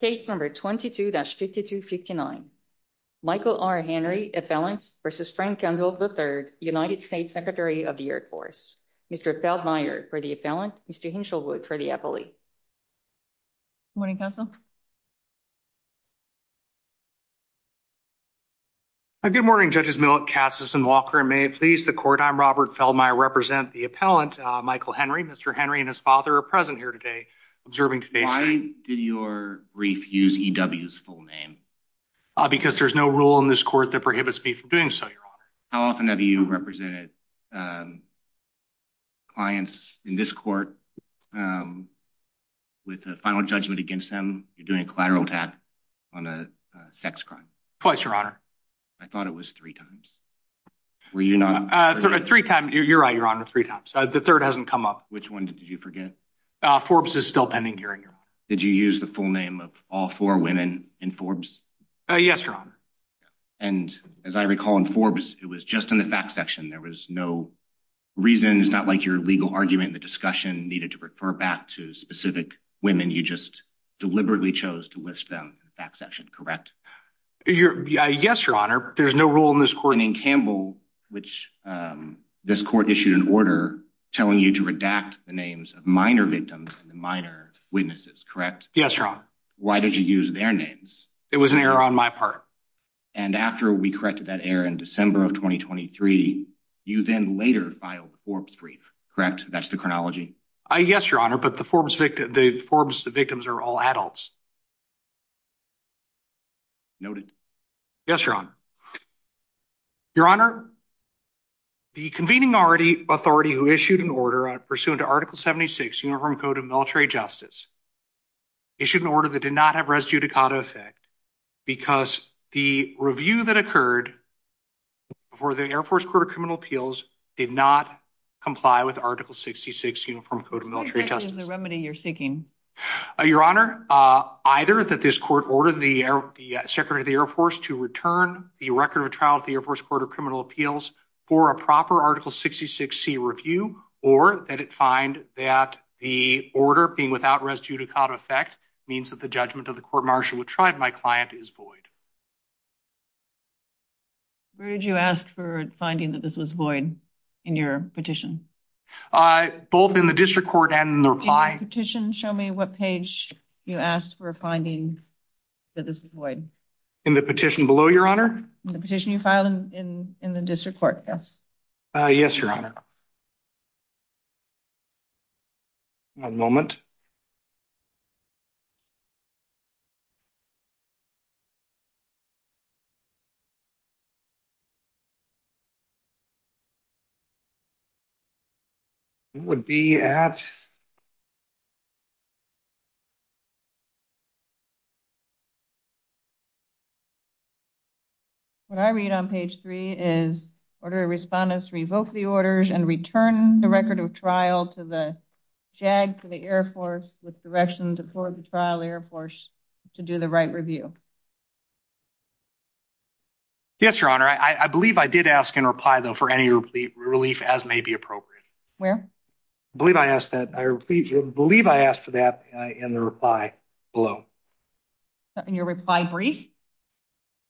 Case number 22-5259. Michael R. Henry, appellant, v. Frank Kendall III, United States Secretary of the Air Force. Mr. Feldmayer for the appellant. Mr. Hinshelwood for the appellee. Good morning, counsel. Hi, good morning, Judges Millett, Katsas, and Walker. And may it please the court, I'm Robert Feldmayer. I represent the appellant, Michael Henry. Mr. Henry and his father are observing today's hearing. Why did your brief use E.W.'s full name? Because there's no rule in this court that prohibits me from doing so, Your Honor. How often have you represented clients in this court with a final judgment against them, you're doing a collateral attack on a sex crime? Twice, Your Honor. I thought it was three times. Were you not? Three times, you're right, Your Honor, three times. The third hasn't come up. Which one did you forget? Forbes is still pending here, Your Honor. Did you use the full name of all four women in Forbes? Yes, Your Honor. And as I recall in Forbes, it was just in the fact section. There was no reason. It's not like your legal argument, the discussion needed to refer back to specific women. You just deliberately chose to list them in the fact section, correct? Yes, Your Honor. There's no rule in this court. Which this court issued an order telling you to redact the names of minor victims and minor witnesses, correct? Yes, Your Honor. Why did you use their names? It was an error on my part. And after we corrected that error in December of 2023, you then later filed the Forbes brief, correct? That's the chronology. Yes, Your Honor, but the Forbes victims are all adults. Noted. Yes, Your Honor. Your Honor, the convening authority who issued an order pursuant to Article 76, Uniform Code of Military Justice, issued an order that did not have res judicata effect because the review that occurred for the Air Force Court of Criminal Appeals did not comply with Article 66, Uniform Code of Military Justice. Which is the remedy you're seeking? Your Honor, either that this court ordered the Secretary of the Air Force to return the record of trial of the Air Force Court of Criminal Appeals for a proper Article 66c review, or that it find that the order being without res judicata effect means that the judgment of the court martial which tried my client is void. Where did you ask for finding that this was void in your petition? Both in the district court and in the reply. In the petition, show me what page you asked for finding that this was void. In the petition below, Your Honor? The petition you filed in the district court, yes. Yes, Your Honor. One moment. Who would be at? What I read on page three is order respondents revoke the orders and return the record of trial to the JAG for the Air Force with directions before the trial Air Force to do the right review. Yes, Your Honor. I believe I did ask in reply, though, for any relief as may be appropriate. I believe I asked that. I believe I asked for that in the reply below. In your reply brief?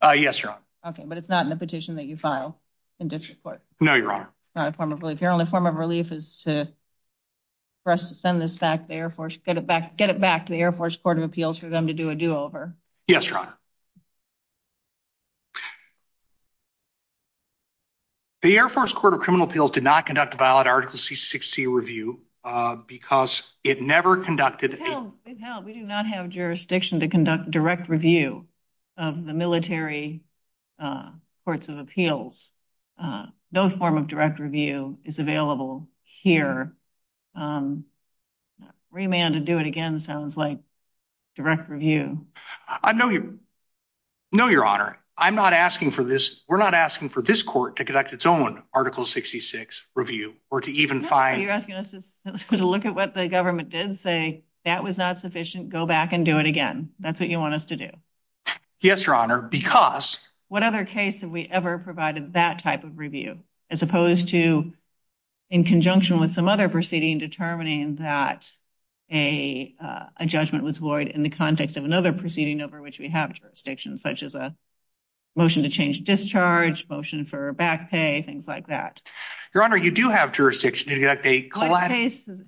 Yes, Your Honor. Okay, but it's not in the petition that you file in district court? No, Your Honor. Your only form of relief is to for us to send this back to the Air Force, get it back to the Air Force Court of Appeals for them to do a do-over. Yes, Your Honor. The Air Force Court of Criminal Appeals did not conduct a valid Article C-60 review because it never conducted. We do not have jurisdiction to conduct direct review of the military courts of appeals. No form of direct review is available here. Remand to do it again sounds like direct review. No, Your Honor. We're not asking for this court to conduct its own Article 66 review or to even find— You're asking us to look at what the government did, say, that was not sufficient, go back and do it again. That's what you want us to do? Yes, Your Honor, because— What other case have we ever provided that type of review, as opposed to in conjunction with some other proceeding determining that a judgment was void in the context of another proceeding over which we have jurisdiction, such as a motion to change discharge, motion for back pay, things like that. Your Honor, you do have jurisdiction to conduct a—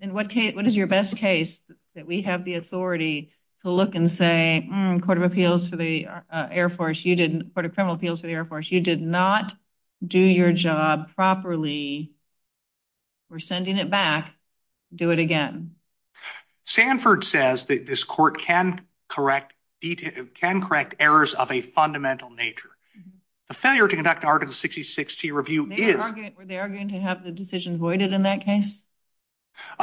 In what case— What is your best case that we have the authority to look and say, Court of Criminal Appeals for the Air Force, you did not do your job properly. We're sending it back. Do it again. Sanford says that this court can correct errors of a fundamental nature. The failure to conduct Article 66C review is— Were they arguing to have the decision voided in that case?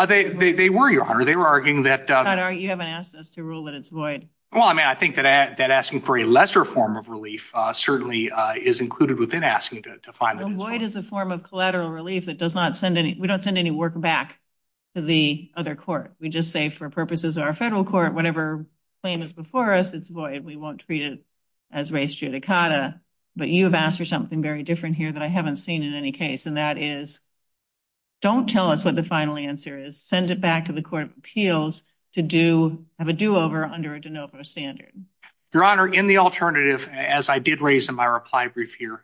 They were, Your Honor. They were arguing that— You haven't asked us to rule that it's void. Well, I mean, I think that asking for a lesser form of relief certainly is included within asking to find that it's void. Void is a form of collateral relief that does not send any— We don't send any work back to the other court. We just say, for purposes of our federal court, whatever claim is before us, it's void. We won't treat it as res judicata. But you have asked for something very different here that I haven't seen in any case, and that is, don't tell us what the final answer is. Send it back to the Court of Appeals to have a do-over under a de novo standard. Your Honor, in the alternative, as I did raise in my reply brief here—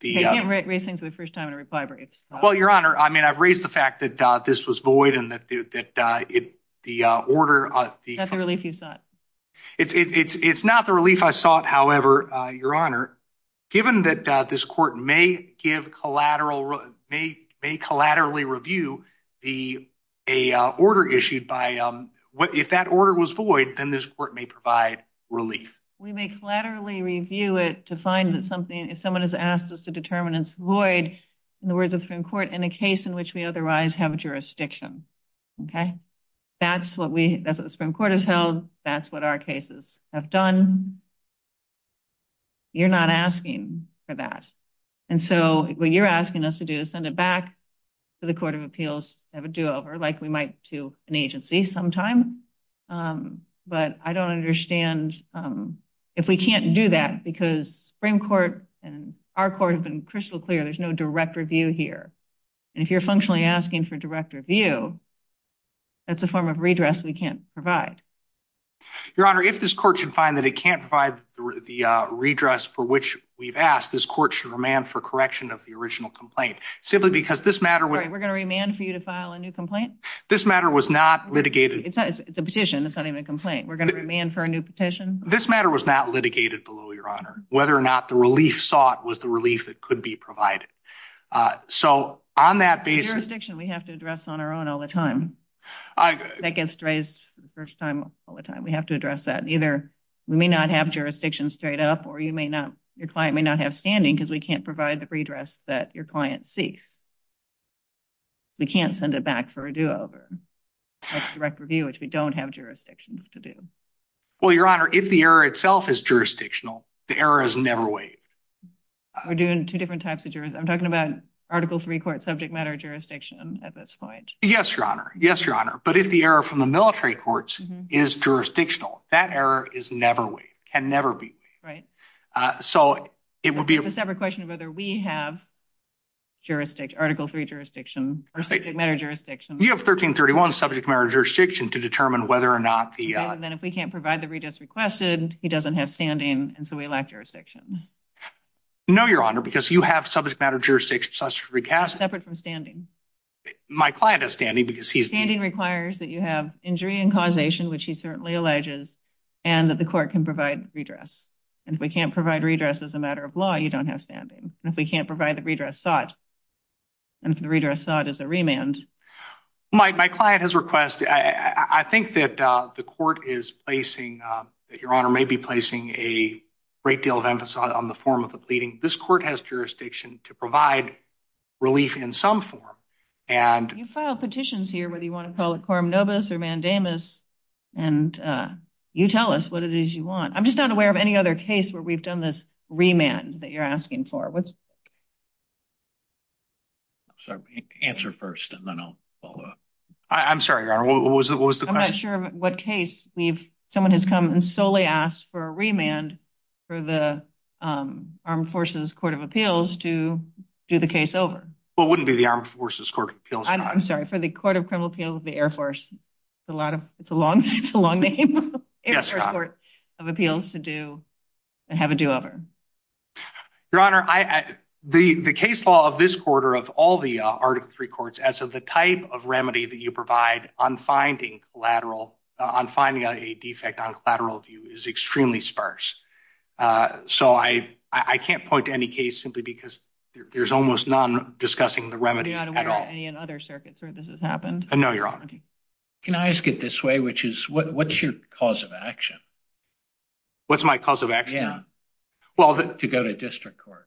You can't raise things for the first time in a reply brief. Well, Your Honor, I mean, I've raised the fact that this was void and that the order— Is that the relief you sought? It's not the relief I sought, however, Your Honor. Given that this court may collaterally review the order issued by— If that order was void, then this court may provide relief. We may collaterally review it to find that something— If someone has asked us to determine it's void, in the words of the Supreme Court, in a case in which we otherwise have jurisdiction. Okay? That's what the Supreme Court has held. That's what our cases have done. You're not asking for that. And so, what you're asking us to do is send it back to the Court of Appeals to have a do-over, like we might to an agency sometime. But I don't understand if we can't do that, because the Supreme Court and our court have been crystal clear. There's no direct review here. And if you're functionally asking for direct review, that's a form of redress we can't provide. Your Honor, if this court should find that it can't provide the redress for which we've asked, this court should remand for correction of the original complaint, simply because this matter— We're going to remand for you to file a new complaint? This matter was not litigated— It's a petition. It's not even a complaint. We're going to remand for a new petition? This matter was not litigated below, Your Honor. Whether or not the relief sought was the relief that could be provided. So, on that basis— Jurisdiction we have to address on our own all the time. That gets raised for the first time all the time. We have to address that. Either we may not have jurisdiction straight up, or your client may not have standing, because we can't provide the redress that your client seeks. We can't send it back for a do-over. That's direct review, which we don't have jurisdiction to do. Well, Your Honor, if the error itself is jurisdictional, the error is never waived. We're doing two different types of— I'm talking about Article III court subject matter jurisdiction at this point. Yes, Your Honor. Yes, Your Honor. But if the error from the military courts is jurisdictional, that error is never waived, can never be waived. So, it would be— It's a separate question of whether we have jurisdiction, Article III jurisdiction or subject matter jurisdiction. You have 1331 subject matter jurisdiction to determine whether or not the— Then if we can't provide the redress requested, he doesn't have standing, and so we lack jurisdiction. No, Your Honor, because you have subject matter jurisdiction, such as recast— Separate from standing. My client has standing because he's— Standing requires that you have injury and causation, which he certainly alleges, and that the court can provide redress. And if we can't provide redress as a matter of law, you don't have standing. And if we can't provide the redress sought, and if the redress sought is a remand— My client has requested— I think that the court is placing— that Your Honor may be placing a great deal of emphasis on the form of the pleading. This court has jurisdiction to provide relief in some form, and— You file petitions here, whether you want to call it quorum nobis or mandamus, and you tell us what it is you want. I'm just not aware of any other case where we've done this remand that you're asking for. I'm sorry, answer first, and then I'll follow up. I'm sorry, Your Honor, what was the question? I'm not sure of what case we've— Someone has come and solely asked for a remand for the Armed Forces Court of Appeals to do the case over. Well, it wouldn't be the Armed Forces Court of Appeals, Your Honor. I'm sorry, for the Court of Criminal Appeals of the Air Force. It's a long name. Yes, Your Honor. Air Force Court of Appeals to have a do-over. Your Honor, the case law of this quarter of all the Article III courts, as of the type of remedy that you provide on finding collateral— on finding a defect on collateral view is extremely sparse. So I can't point to any case simply because there's almost none discussing the remedy at all. You're not aware of any in other circuits where this has happened? No, Your Honor. Can I ask it this way, which is, what's your cause of action? What's my cause of action? Yeah, to go to district court.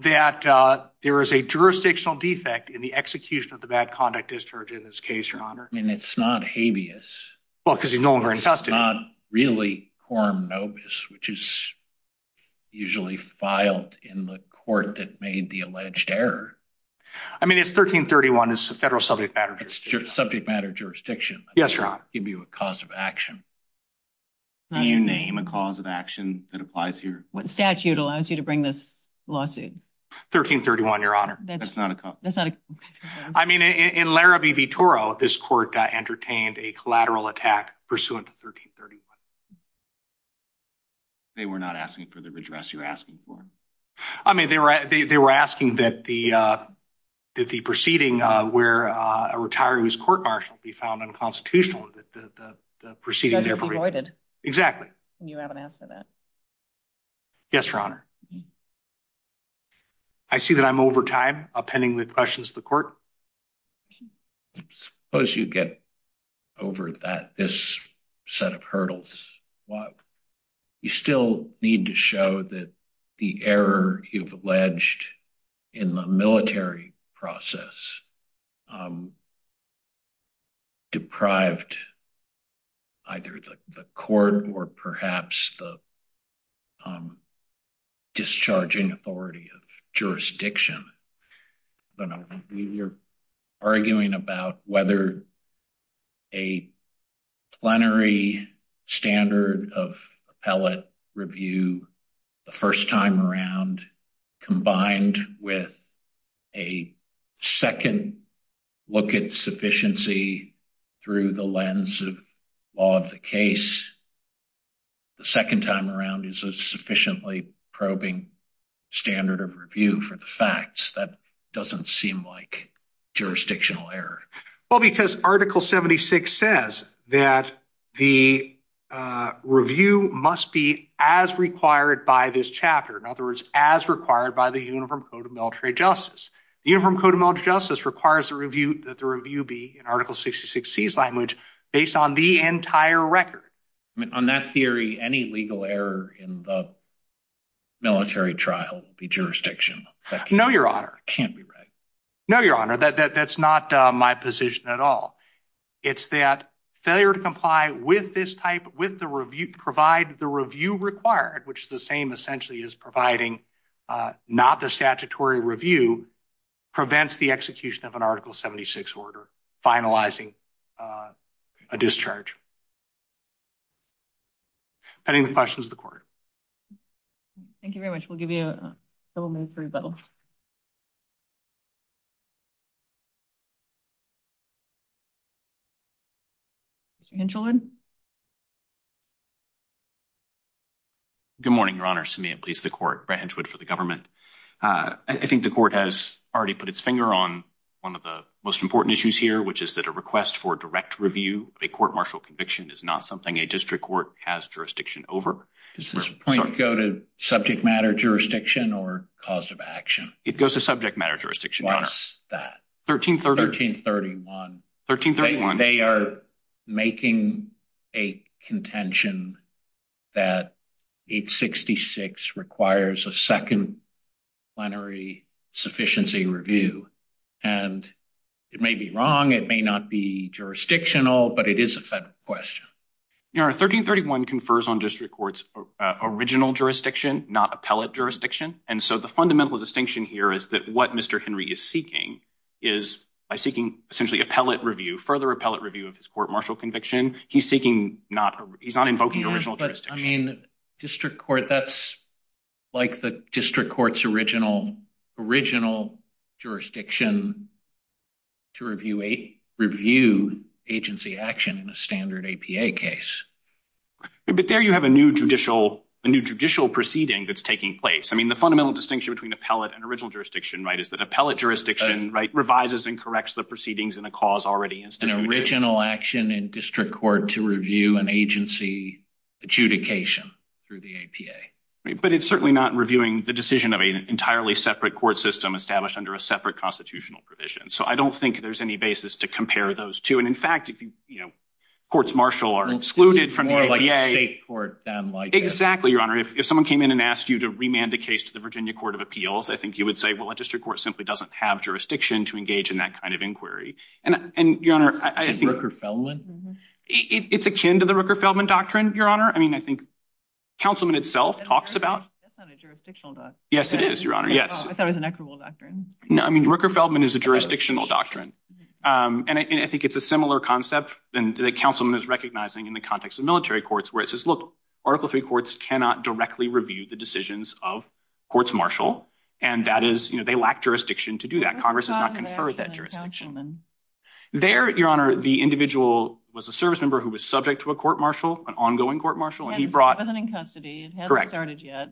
That there is a jurisdictional defect in the execution of the bad conduct discharge in this case, Your Honor. I mean, it's not habeas. Well, because he's no longer in custody. It's not really quorum nobis, which is usually filed in the court that made the alleged error. I mean, it's 1331. It's a federal subject matter jurisdiction. Subject matter jurisdiction. Yes, Your Honor. I can't give you a cause of action. Can you name a cause of action that applies here? What statute allows you to bring this lawsuit? 1331, Your Honor. I mean, in Larrabee v. Toro, this court entertained a collateral attack pursuant to 1331. They were not asking for the redress you're asking for? I mean, they were asking that the proceeding where a retiree was court-martialed be found unconstitutional, that the proceeding be avoided. Exactly. And you haven't asked for that. Yes, Your Honor. I see that I'm over time. I'll pending the questions of the court. Suppose you get over this set of hurdles. You still need to show that the error you've alleged in the military process has deprived either the court or perhaps the discharging authority of jurisdiction. You're arguing about whether a plenary standard of appellate review the first time around combined with a second look at sufficiency through the lens of law of the case the second time around is a sufficiently probing standard of review for the facts. That doesn't seem like jurisdictional error. Well, because Article 76 says that the review must be as required by this chapter. In other words, as required by the Uniform Code of Military Justice. The Uniform Code of Military Justice requires that the review be, in Article 66C's language, based on the entire record. I mean, on that theory, any legal error in the military trial will be jurisdiction. No, Your Honor. Can't be right. No, Your Honor. That's not my position at all. It's that failure to comply with this type, provide the review required, which is the same essentially as providing not the statutory review, prevents the execution of an Article 76 order finalizing a discharge. Pending the questions of the court. Thank you very much. We'll give you a couple minutes for rebuttal. Mr. Hinshelwood? Good morning, Your Honor. Samia Bleas, the court. Brett Hinshelwood for the government. I think the court has already put its finger on one of the most important issues here, which is that a request for direct review of a court martial conviction is not something a district court has jurisdiction over. Does this point go to subject matter jurisdiction or cause of action? It goes to subject matter jurisdiction, Your Honor. Why is that? 1331. They are making a contention that 866 requires a second plenary sufficiency review, and it may be wrong. It may not be jurisdictional, but it is a federal question. Your Honor, 1331 confers on district courts original jurisdiction, not appellate jurisdiction, and so the fundamental distinction here is that what Mr. Henry is seeking is by seeking essentially appellate review, further appellate review of his court martial conviction, he's not invoking original jurisdiction. I mean, district court, that's like the district court's original jurisdiction to review agency action in a standard APA case. But there you have a new judicial proceeding that's taking place. I mean, the fundamental distinction between appellate and original jurisdiction is that appellate jurisdiction revises and corrects the proceedings in a cause already instituted. An original action in district court to review an agency adjudication through the APA. But it's certainly not reviewing the decision of an entirely separate court system established under a separate constitutional provision. So I don't think there's any basis to compare those two. And in fact, if you, you know, courts martial are excluded from the APA. It's more like a state court than like that. Exactly, Your Honor. If someone came in and asked you to remand a case to the Virginia Court of Appeals, I think you would say, well, a district court simply doesn't have jurisdiction to engage in that kind of inquiry. And, Your Honor, I think- It's akin to the Rooker-Feldman doctrine, Your Honor. I mean, I think councilman itself talks about- That's not a jurisdictional doctrine. Yes, it is, Your Honor. Yes. I thought it was an equitable doctrine. No, I mean, Rooker-Feldman is a jurisdictional doctrine. And I think it's a similar concept that the councilman is recognizing in the context of military courts where it says, look, Article III courts cannot directly review the decisions of and that is, you know, they lack jurisdiction to do that. Congress has not conferred that jurisdiction. There, Your Honor, the individual was a service member who was subject to a court martial, an ongoing court martial, and he brought- It wasn't in custody. It hadn't started yet.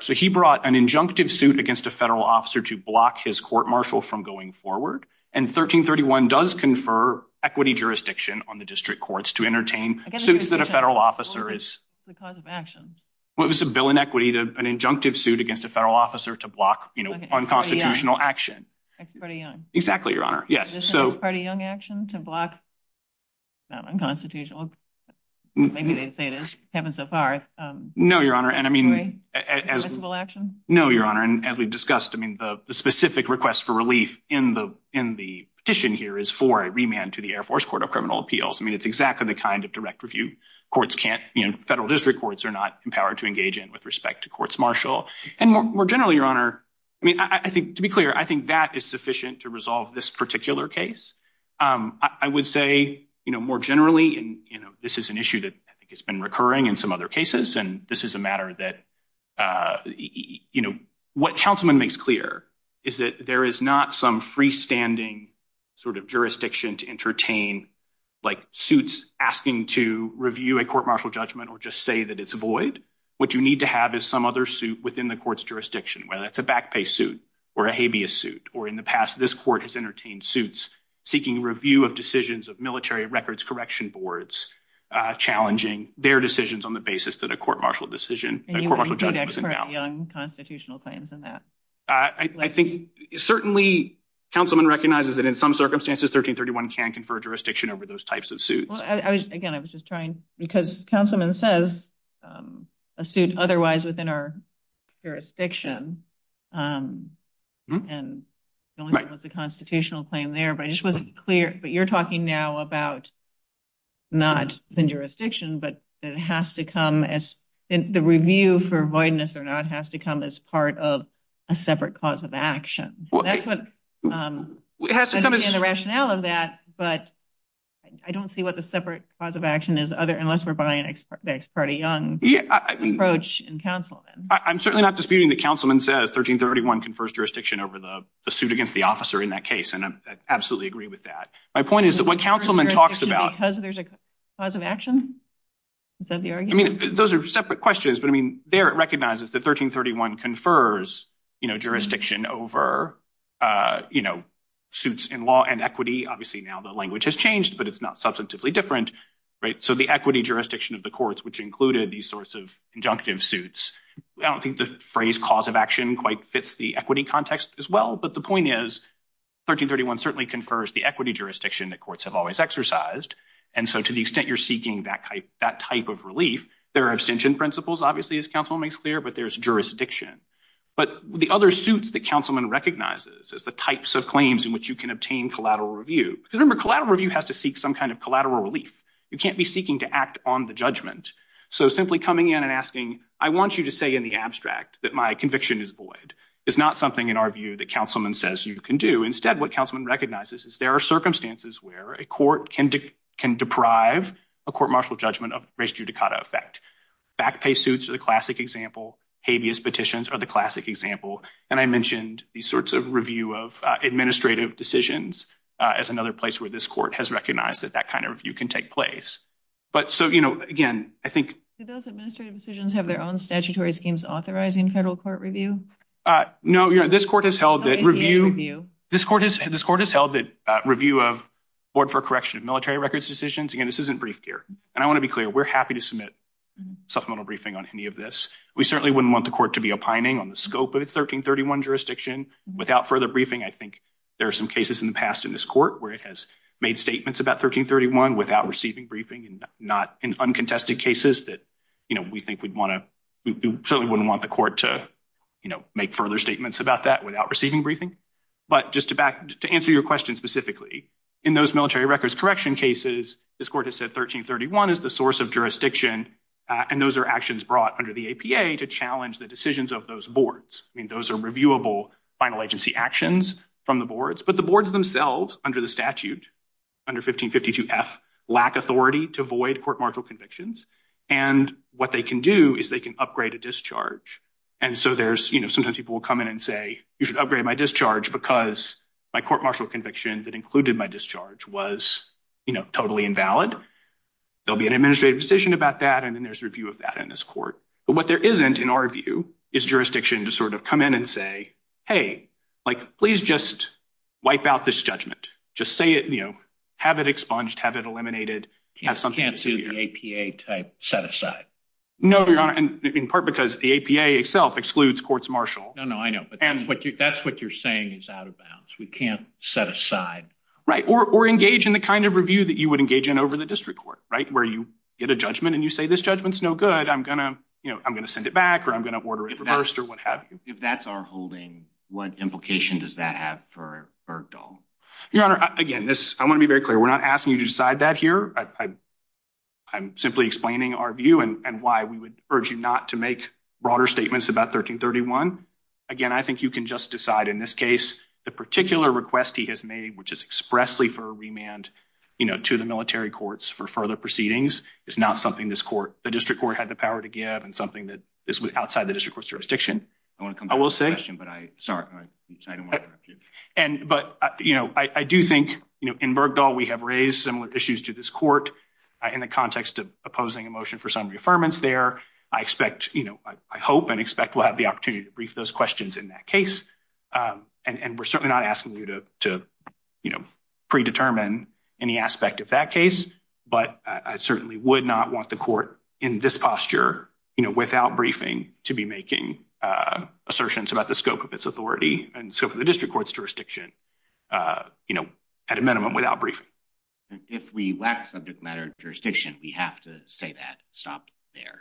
So he brought an injunctive suit against a federal officer to block his court martial from going forward. And 1331 does confer equity jurisdiction on the district courts to entertain suits that a federal officer is- It's the cause of action. Well, it was a bill in equity to an injunctive suit against a federal officer to block, you know, unconstitutional action. Ex parte Young. Exactly, Your Honor. Yes, so- Ex parte Young action to block unconstitutional- Maybe they say it is. It's happened so far. No, Your Honor. And I mean, as- Permissible action? No, Your Honor. And as we've discussed, I mean, the specific request for relief in the petition here is for a remand to the Air Force Court of Criminal Appeals. I mean, it's exactly the kind of direct review courts can't, you know, federal district courts are not empowered to engage in with respect to courts martial. And more generally, Your Honor, I mean, I think, to be clear, I think that is sufficient to resolve this particular case. I would say, you know, more generally, and, you know, this is an issue that I think has been recurring in some other cases, and this is a matter that, you know, what Councilman makes clear is that there is not some freestanding sort of jurisdiction to entertain, like, asking to review a court martial judgment or just say that it's void. What you need to have is some other suit within the court's jurisdiction, whether it's a back pay suit or a habeas suit. Or in the past, this court has entertained suits seeking review of decisions of military records correction boards, challenging their decisions on the basis that a court martial decision, a court martial judgment was announced. And you want to do that for young constitutional claims and that? I think, certainly, Councilman recognizes that in some circumstances, 1331 can confer jurisdiction over those types of suits. Again, I was just trying, because Councilman says a suit otherwise within our jurisdiction and the only thing was a constitutional claim there. But I just wasn't clear. But you're talking now about not the jurisdiction, but it has to come as the review for voidness or not has to come as part of a separate cause of action. That's what the rationale of that. But I don't see what the separate cause of action is, unless we're buying the ex parte young approach in Councilman. I'm certainly not disputing that Councilman says 1331 confers jurisdiction over the suit against the officer in that case. And I absolutely agree with that. My point is that when Councilman talks about because there's a cause of action, is that the argument? Those are separate questions. There, it recognizes that 1331 confers jurisdiction over suits in law and equity. Obviously, now the language has changed, but it's not substantively different. So the equity jurisdiction of the courts, which included these sorts of injunctive suits, I don't think the phrase cause of action quite fits the equity context as well. But the point is, 1331 certainly confers the equity jurisdiction that courts have always exercised. And so to the extent you're seeking that type of relief, there are abstention principles, obviously, as Councilman makes clear, but there's jurisdiction. But the other suits that Councilman recognizes is the types of claims in which you can obtain collateral review. Because remember, collateral review has to seek some kind of collateral relief. You can't be seeking to act on the judgment. So simply coming in and asking, I want you to say in the abstract that my conviction is void is not something, in our view, that Councilman says you can do. Instead, what Councilman recognizes is there are circumstances where a court can deprive a court martial judgment of race judicata effect. Back pay suits are the classic example. Habeas petitions are the classic example. And I mentioned these sorts of review of administrative decisions as another place where this court has recognized that that kind of review can take place. But so, again, I think- Do those administrative decisions have their own statutory schemes authorizing federal court review? No. This court has held that review of board for correction of military records decisions. Again, this isn't brief gear. And I want to be clear, we're happy to submit supplemental briefing on any of this. We certainly wouldn't want the court to be opining on the scope of its 1331 jurisdiction. Without further briefing, I think there are some cases in the past in this court where it has made statements about 1331 without receiving briefing and not in uncontested cases that we think we'd want to- We certainly wouldn't want the court to make further statements about that without receiving briefing. But just to answer your question specifically, in those military records correction cases, this court has said 1331 is the source of jurisdiction. And those are actions brought under the APA to challenge the decisions of those boards. I mean, those are reviewable final agency actions from the boards. But the boards themselves under the statute, under 1552F, lack authority to void court martial convictions. And what they can do is they can upgrade a discharge. And so there's- Sometimes people will come in and say, you should upgrade my discharge because my court invalid. There'll be an administrative decision about that. And then there's a review of that in this court. But what there isn't, in our view, is jurisdiction to sort of come in and say, hey, like, please just wipe out this judgment. Just say it, you know, have it expunged, have it eliminated, have something- You can't do the APA type set aside. No, Your Honor. And in part because the APA itself excludes courts martial. No, no, I know. But that's what you're saying is out of bounds. We can't set aside. Right. Or engage in the kind of review that you would engage in over the district court, right? Where you get a judgment and you say, this judgment's no good. I'm going to, you know, I'm going to send it back or I'm going to order it reversed or what have you. If that's our holding, what implication does that have for Bergdahl? Your Honor, again, I want to be very clear. We're not asking you to decide that here. I'm simply explaining our view and why we would urge you not to make broader statements about 1331. Again, I think you can just decide in this case, the particular request he has made, which is expressly for a remand, you know, to the military courts for further proceedings. It's not something this court, the district court had the power to give and something that is outside the district court's jurisdiction. I want to come to that question, but I, sorry, I don't want to interrupt you. And, but, you know, I do think, you know, in Bergdahl, we have raised similar issues to this court in the context of opposing a motion for summary affirmance there. I expect, you know, I hope and expect we'll have the opportunity to brief those questions in that case. And we're certainly not asking you to, to, you know, predetermine any aspect of that case, but I certainly would not want the court in this posture, you know, without briefing to be making assertions about the scope of its authority and scope of the district court's jurisdiction, you know, at a minimum without briefing. If we lack subject matter jurisdiction, we have to say that, stop there.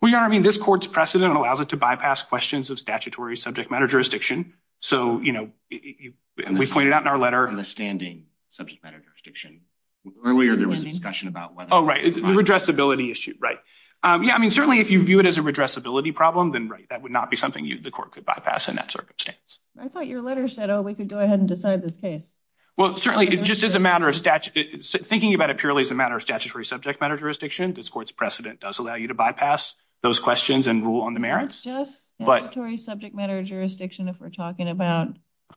Well, Your Honor, I mean, this court's precedent allows it to bypass questions of statutory subject matter jurisdiction. So, you know, we pointed out in our letter. Understanding subject matter jurisdiction. Earlier, there was a discussion about whether. Oh, right. The redressability issue, right. Yeah, I mean, certainly if you view it as a redressability problem, then right, that would not be something the court could bypass in that circumstance. I thought your letter said, oh, we could go ahead and decide this case. Well, certainly it just is a matter of statute. Thinking about it purely as a matter of statutory subject matter jurisdiction, this court's precedent does allow you to bypass those questions and rule on the merits. Just statutory subject matter jurisdiction, if we're talking about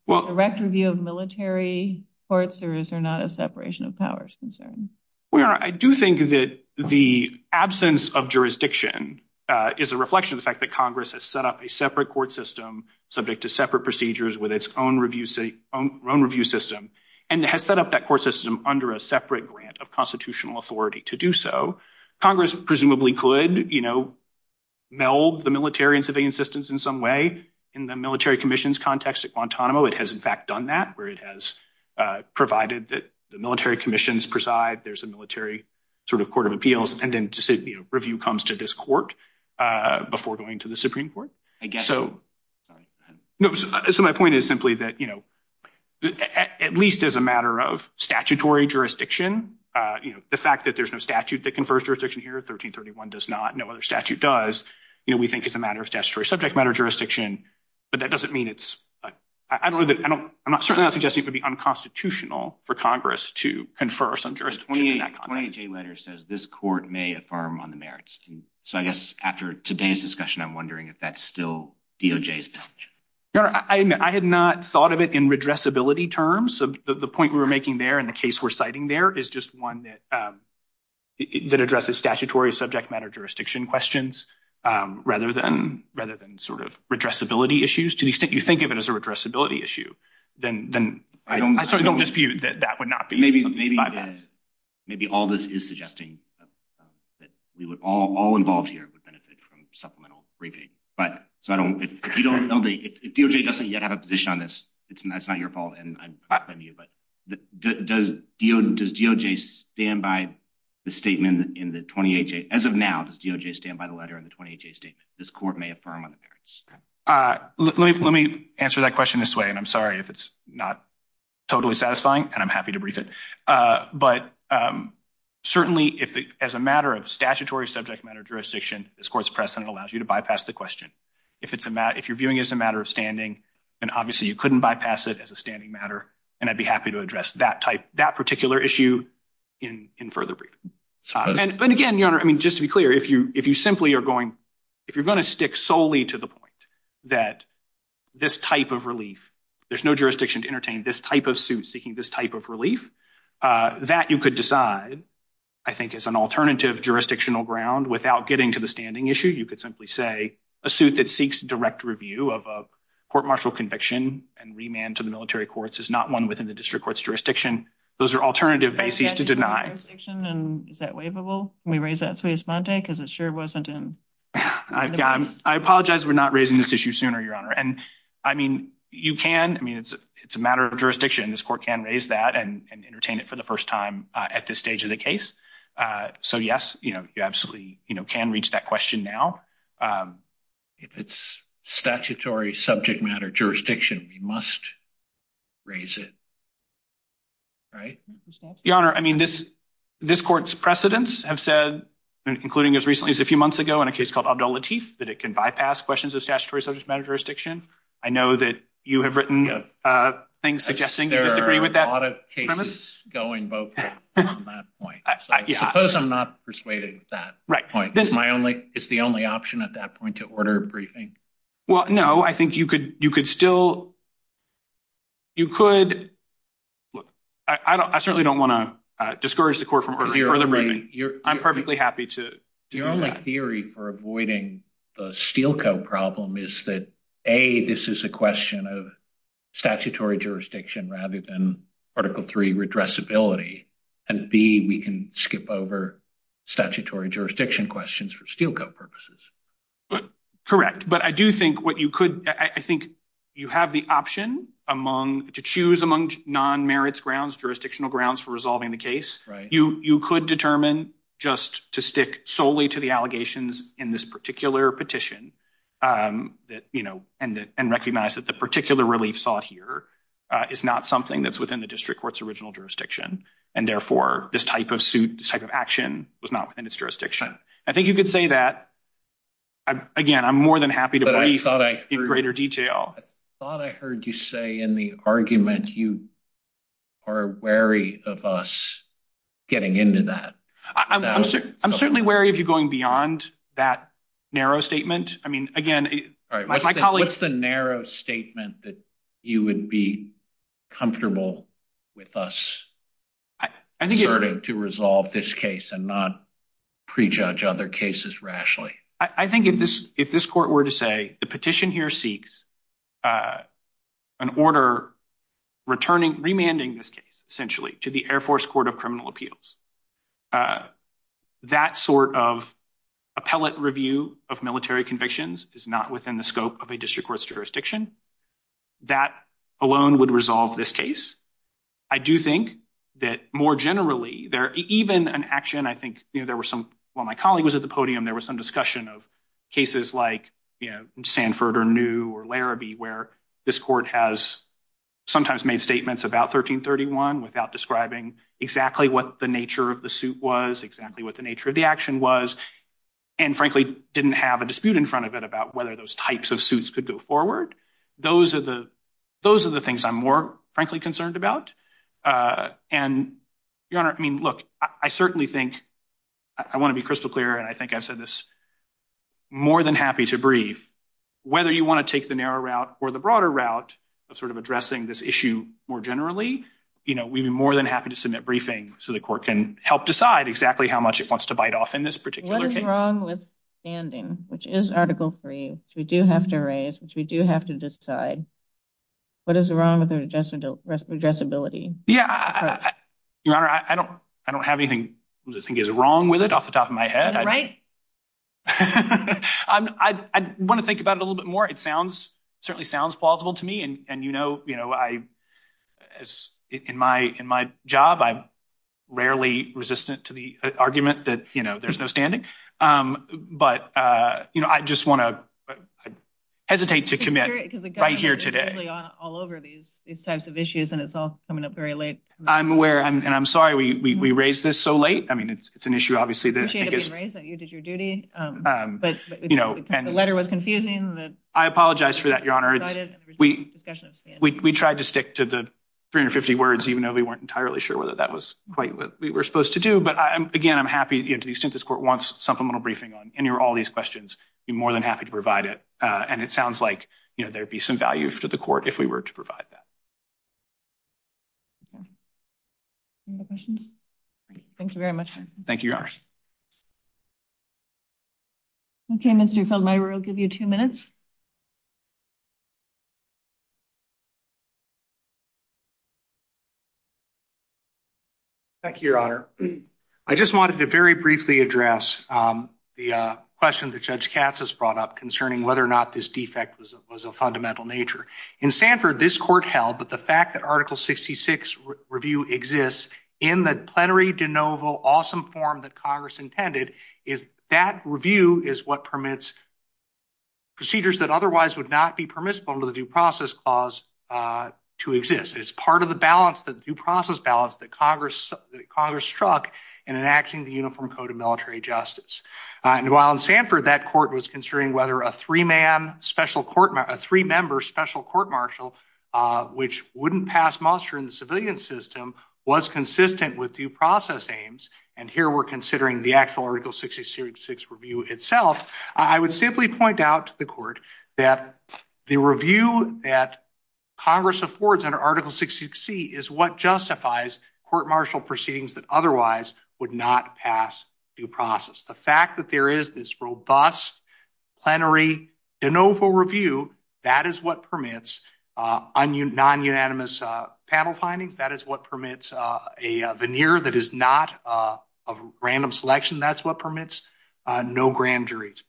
direct review of military courts, or is there not a separation of powers concern? Well, Your Honor, I do think that the absence of jurisdiction is a reflection of the fact that Congress has set up a separate court system subject to separate procedures with its own review system and has set up that court system under a separate grant of constitutional authority to do so. Congress presumably could meld the military and civilian systems in some way in the military commission's context at Guantanamo. It has, in fact, done that, where it has provided that the military commissions preside. There's a military sort of court of appeals, and then review comes to this court before going to the Supreme Court. I get you. So my point is simply that, at least as a matter of statutory jurisdiction, the fact that there's no statute that confers jurisdiction here, 1331 does not, no other statute does, you know, we think is a matter of statutory subject matter jurisdiction, but that doesn't mean it's, I don't know, I'm certainly not suggesting it would be unconstitutional for Congress to confer some jurisdiction in that context. The 28J letter says this court may affirm on the merits. So I guess after today's discussion, I'm wondering if that's still DOJ's position. Your Honor, I had not thought of it in redressability terms. The point we were making there in the case we're citing there is just one that addresses statutory subject matter jurisdiction questions rather than sort of redressability issues. To the extent you think of it as a redressability issue, then I certainly don't dispute that that would not be. Maybe all this is suggesting that we would all involved here would benefit from supplemental briefing. But if DOJ doesn't yet have a position on this, it's not your fault. And I'm not blaming you, but does DOJ stand by the statement in the 28J? As of now, does DOJ stand by the letter in the 28J statement? This court may affirm on the merits. Let me answer that question this way, and I'm sorry if it's not totally satisfying, and I'm happy to brief it. But certainly, as a matter of statutory subject matter jurisdiction, this court's precedent allows you to bypass the question. If you're viewing it as a matter of standing, then obviously you couldn't bypass it as a subject matter, and I'd be happy to address that particular issue in further briefing. And again, Your Honor, I mean, just to be clear, if you're going to stick solely to the point that this type of relief, there's no jurisdiction to entertain this type of suit seeking this type of relief, that you could decide, I think, as an alternative jurisdictional ground without getting to the standing issue. You could simply say a suit that seeks direct review of a court martial conviction and remand to the military courts is not one within the district court's jurisdiction. Those are alternative bases to deny. Is that waiverable? Can we raise that, Suez-Monte? Because it sure wasn't in the past. I apologize. We're not raising this issue sooner, Your Honor. And I mean, you can. I mean, it's a matter of jurisdiction. This court can raise that and entertain it for the first time at this stage of the case. So yes, you absolutely can reach that question now. But if it's statutory subject matter jurisdiction, we must raise it. Right? Your Honor, I mean, this court's precedents have said, including as recently as a few months ago in a case called Abdul Latif, that it can bypass questions of statutory subject matter jurisdiction. I know that you have written things suggesting you disagree with that premise. There are a lot of cases going both ways on that point. Suppose I'm not persuaded with that point. Is the only option at that point to order a briefing? Well, no. I think you could still—you could—I certainly don't want to discourage the court from ordering further briefing. I'm perfectly happy to do that. Your only theory for avoiding the Steelco problem is that, A, this is a question of statutory jurisdiction rather than Article III redressability. And, B, we can skip over statutory jurisdiction questions for Steelco purposes. Correct. But I do think what you could—I think you have the option among—to choose among non-merits grounds, jurisdictional grounds for resolving the case. You could determine just to stick solely to the allegations in this particular petition and recognize that the particular relief sought here is not something that's within the district court's original jurisdiction and, therefore, this type of action was not within its jurisdiction. I think you could say that. Again, I'm more than happy to brief in greater detail. I thought I heard you say in the argument you are wary of us getting into that. I'm certainly wary of you going beyond that narrow statement. I mean, again, my colleague— What's the narrow statement that you would be comfortable with us asserting to resolve this case and not prejudge other cases rashly? I think if this court were to say the petition here seeks an order remanding this case, essentially, to the Air Force Court of Criminal Appeals, that sort of appellate review of military convictions is not within the scope of a district court's jurisdiction. That alone would resolve this case. I do think that, more generally, even an action—I think there were some—while my colleague was at the podium, there was some discussion of cases like Sanford or New or Larrabee where this court has sometimes made statements about 1331 without describing exactly what the nature of the suit was, exactly what the nature of the action was, and, frankly, didn't have a dispute in front of it about whether those types of suits could go forward. Those are the things I'm more, frankly, concerned about. And, Your Honor, I mean, look, I certainly think—I want to be crystal clear, and I think I've said this more than happy to brief—whether you want to take the narrow route or the broader route of sort of addressing this issue more generally, you know, we'd be more than happy to submit briefing so the court can help decide exactly how much it wants to bite off in this particular case. What is wrong with standing, which is Article III, which we do have to raise, which we do have to decide? What is wrong with addressability? Yeah, Your Honor, I don't have anything that I think is wrong with it off the top of my head. Is it right? I want to think about it a little bit more. Certainly sounds plausible to me, and, you know, in my job, I'm rarely resistant to the argument that, you know, there's no standing. But, you know, I just want to—I hesitate to commit right here today. Because the government is usually all over these types of issues, and it's all coming up very late. I'm aware, and I'm sorry we raised this so late. I mean, it's an issue, obviously, that I think is— I appreciate it being raised, that you did your duty, but the letter was confusing. I apologize for that, Your Honor. We tried to stick to the 350 words, even though we weren't entirely sure whether that was quite what we were supposed to do. But, again, I'm happy, to the extent this Court wants supplemental briefing on any or all these questions, I'd be more than happy to provide it. And it sounds like, you know, there'd be some value to the Court if we were to provide that. Any other questions? Thank you very much. Thank you, Your Honor. Okay, Mr. Feldmayer, I'll give you two minutes. Thank you, Your Honor. I just wanted to very briefly address the question that Judge Katz has brought up concerning whether or not this defect was of fundamental nature. In Sanford, this Court held that the fact that Article 66 review exists in the plenary de novo awesome form that Congress intended, is that review is what permits procedures that otherwise would not be permissible under the Due Process Clause to exist. It's part of the balance, the due process balance, that Congress struck in enacting the Uniform Code of Military Justice. And while in Sanford, that Court was considering whether a three-member special court-martial, which wouldn't pass muster in the civilian system, was consistent with due process aims, and here we're considering the actual Article 66 review itself, I would simply point out to the Court that the review that Congress affords under Article 66C is what justifies court-martial proceedings that otherwise would not pass due process. The fact that there is this robust plenary de novo review, that is what permits non-unanimous panel findings. That is what permits a veneer that is not of random selection. That's what permits no grand juries.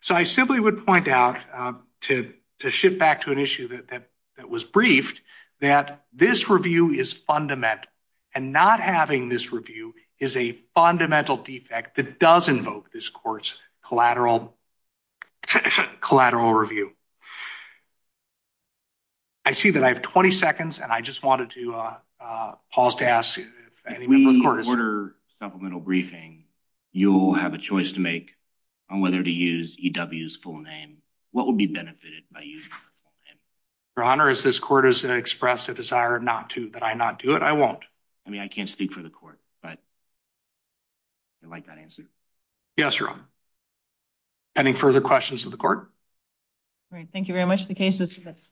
So I simply would point out to shift back to an issue that was briefed, that this review is fundamental, and not having this review is a fundamental defect that does invoke this Court's collateral review. I see that I have 20 seconds, and I just wanted to pause to ask if any member of the Court is... We order supplemental briefing. You'll have a choice to make on whether to use EW's full name. What would be benefited by using the full name? Your Honor, as this Court has expressed a desire that I not do it, I won't. I mean, I can't speak for the Court, but I like that answer. Yes, Your Honor. Any further questions of the Court? All right. Thank you very much. The case is dismissed.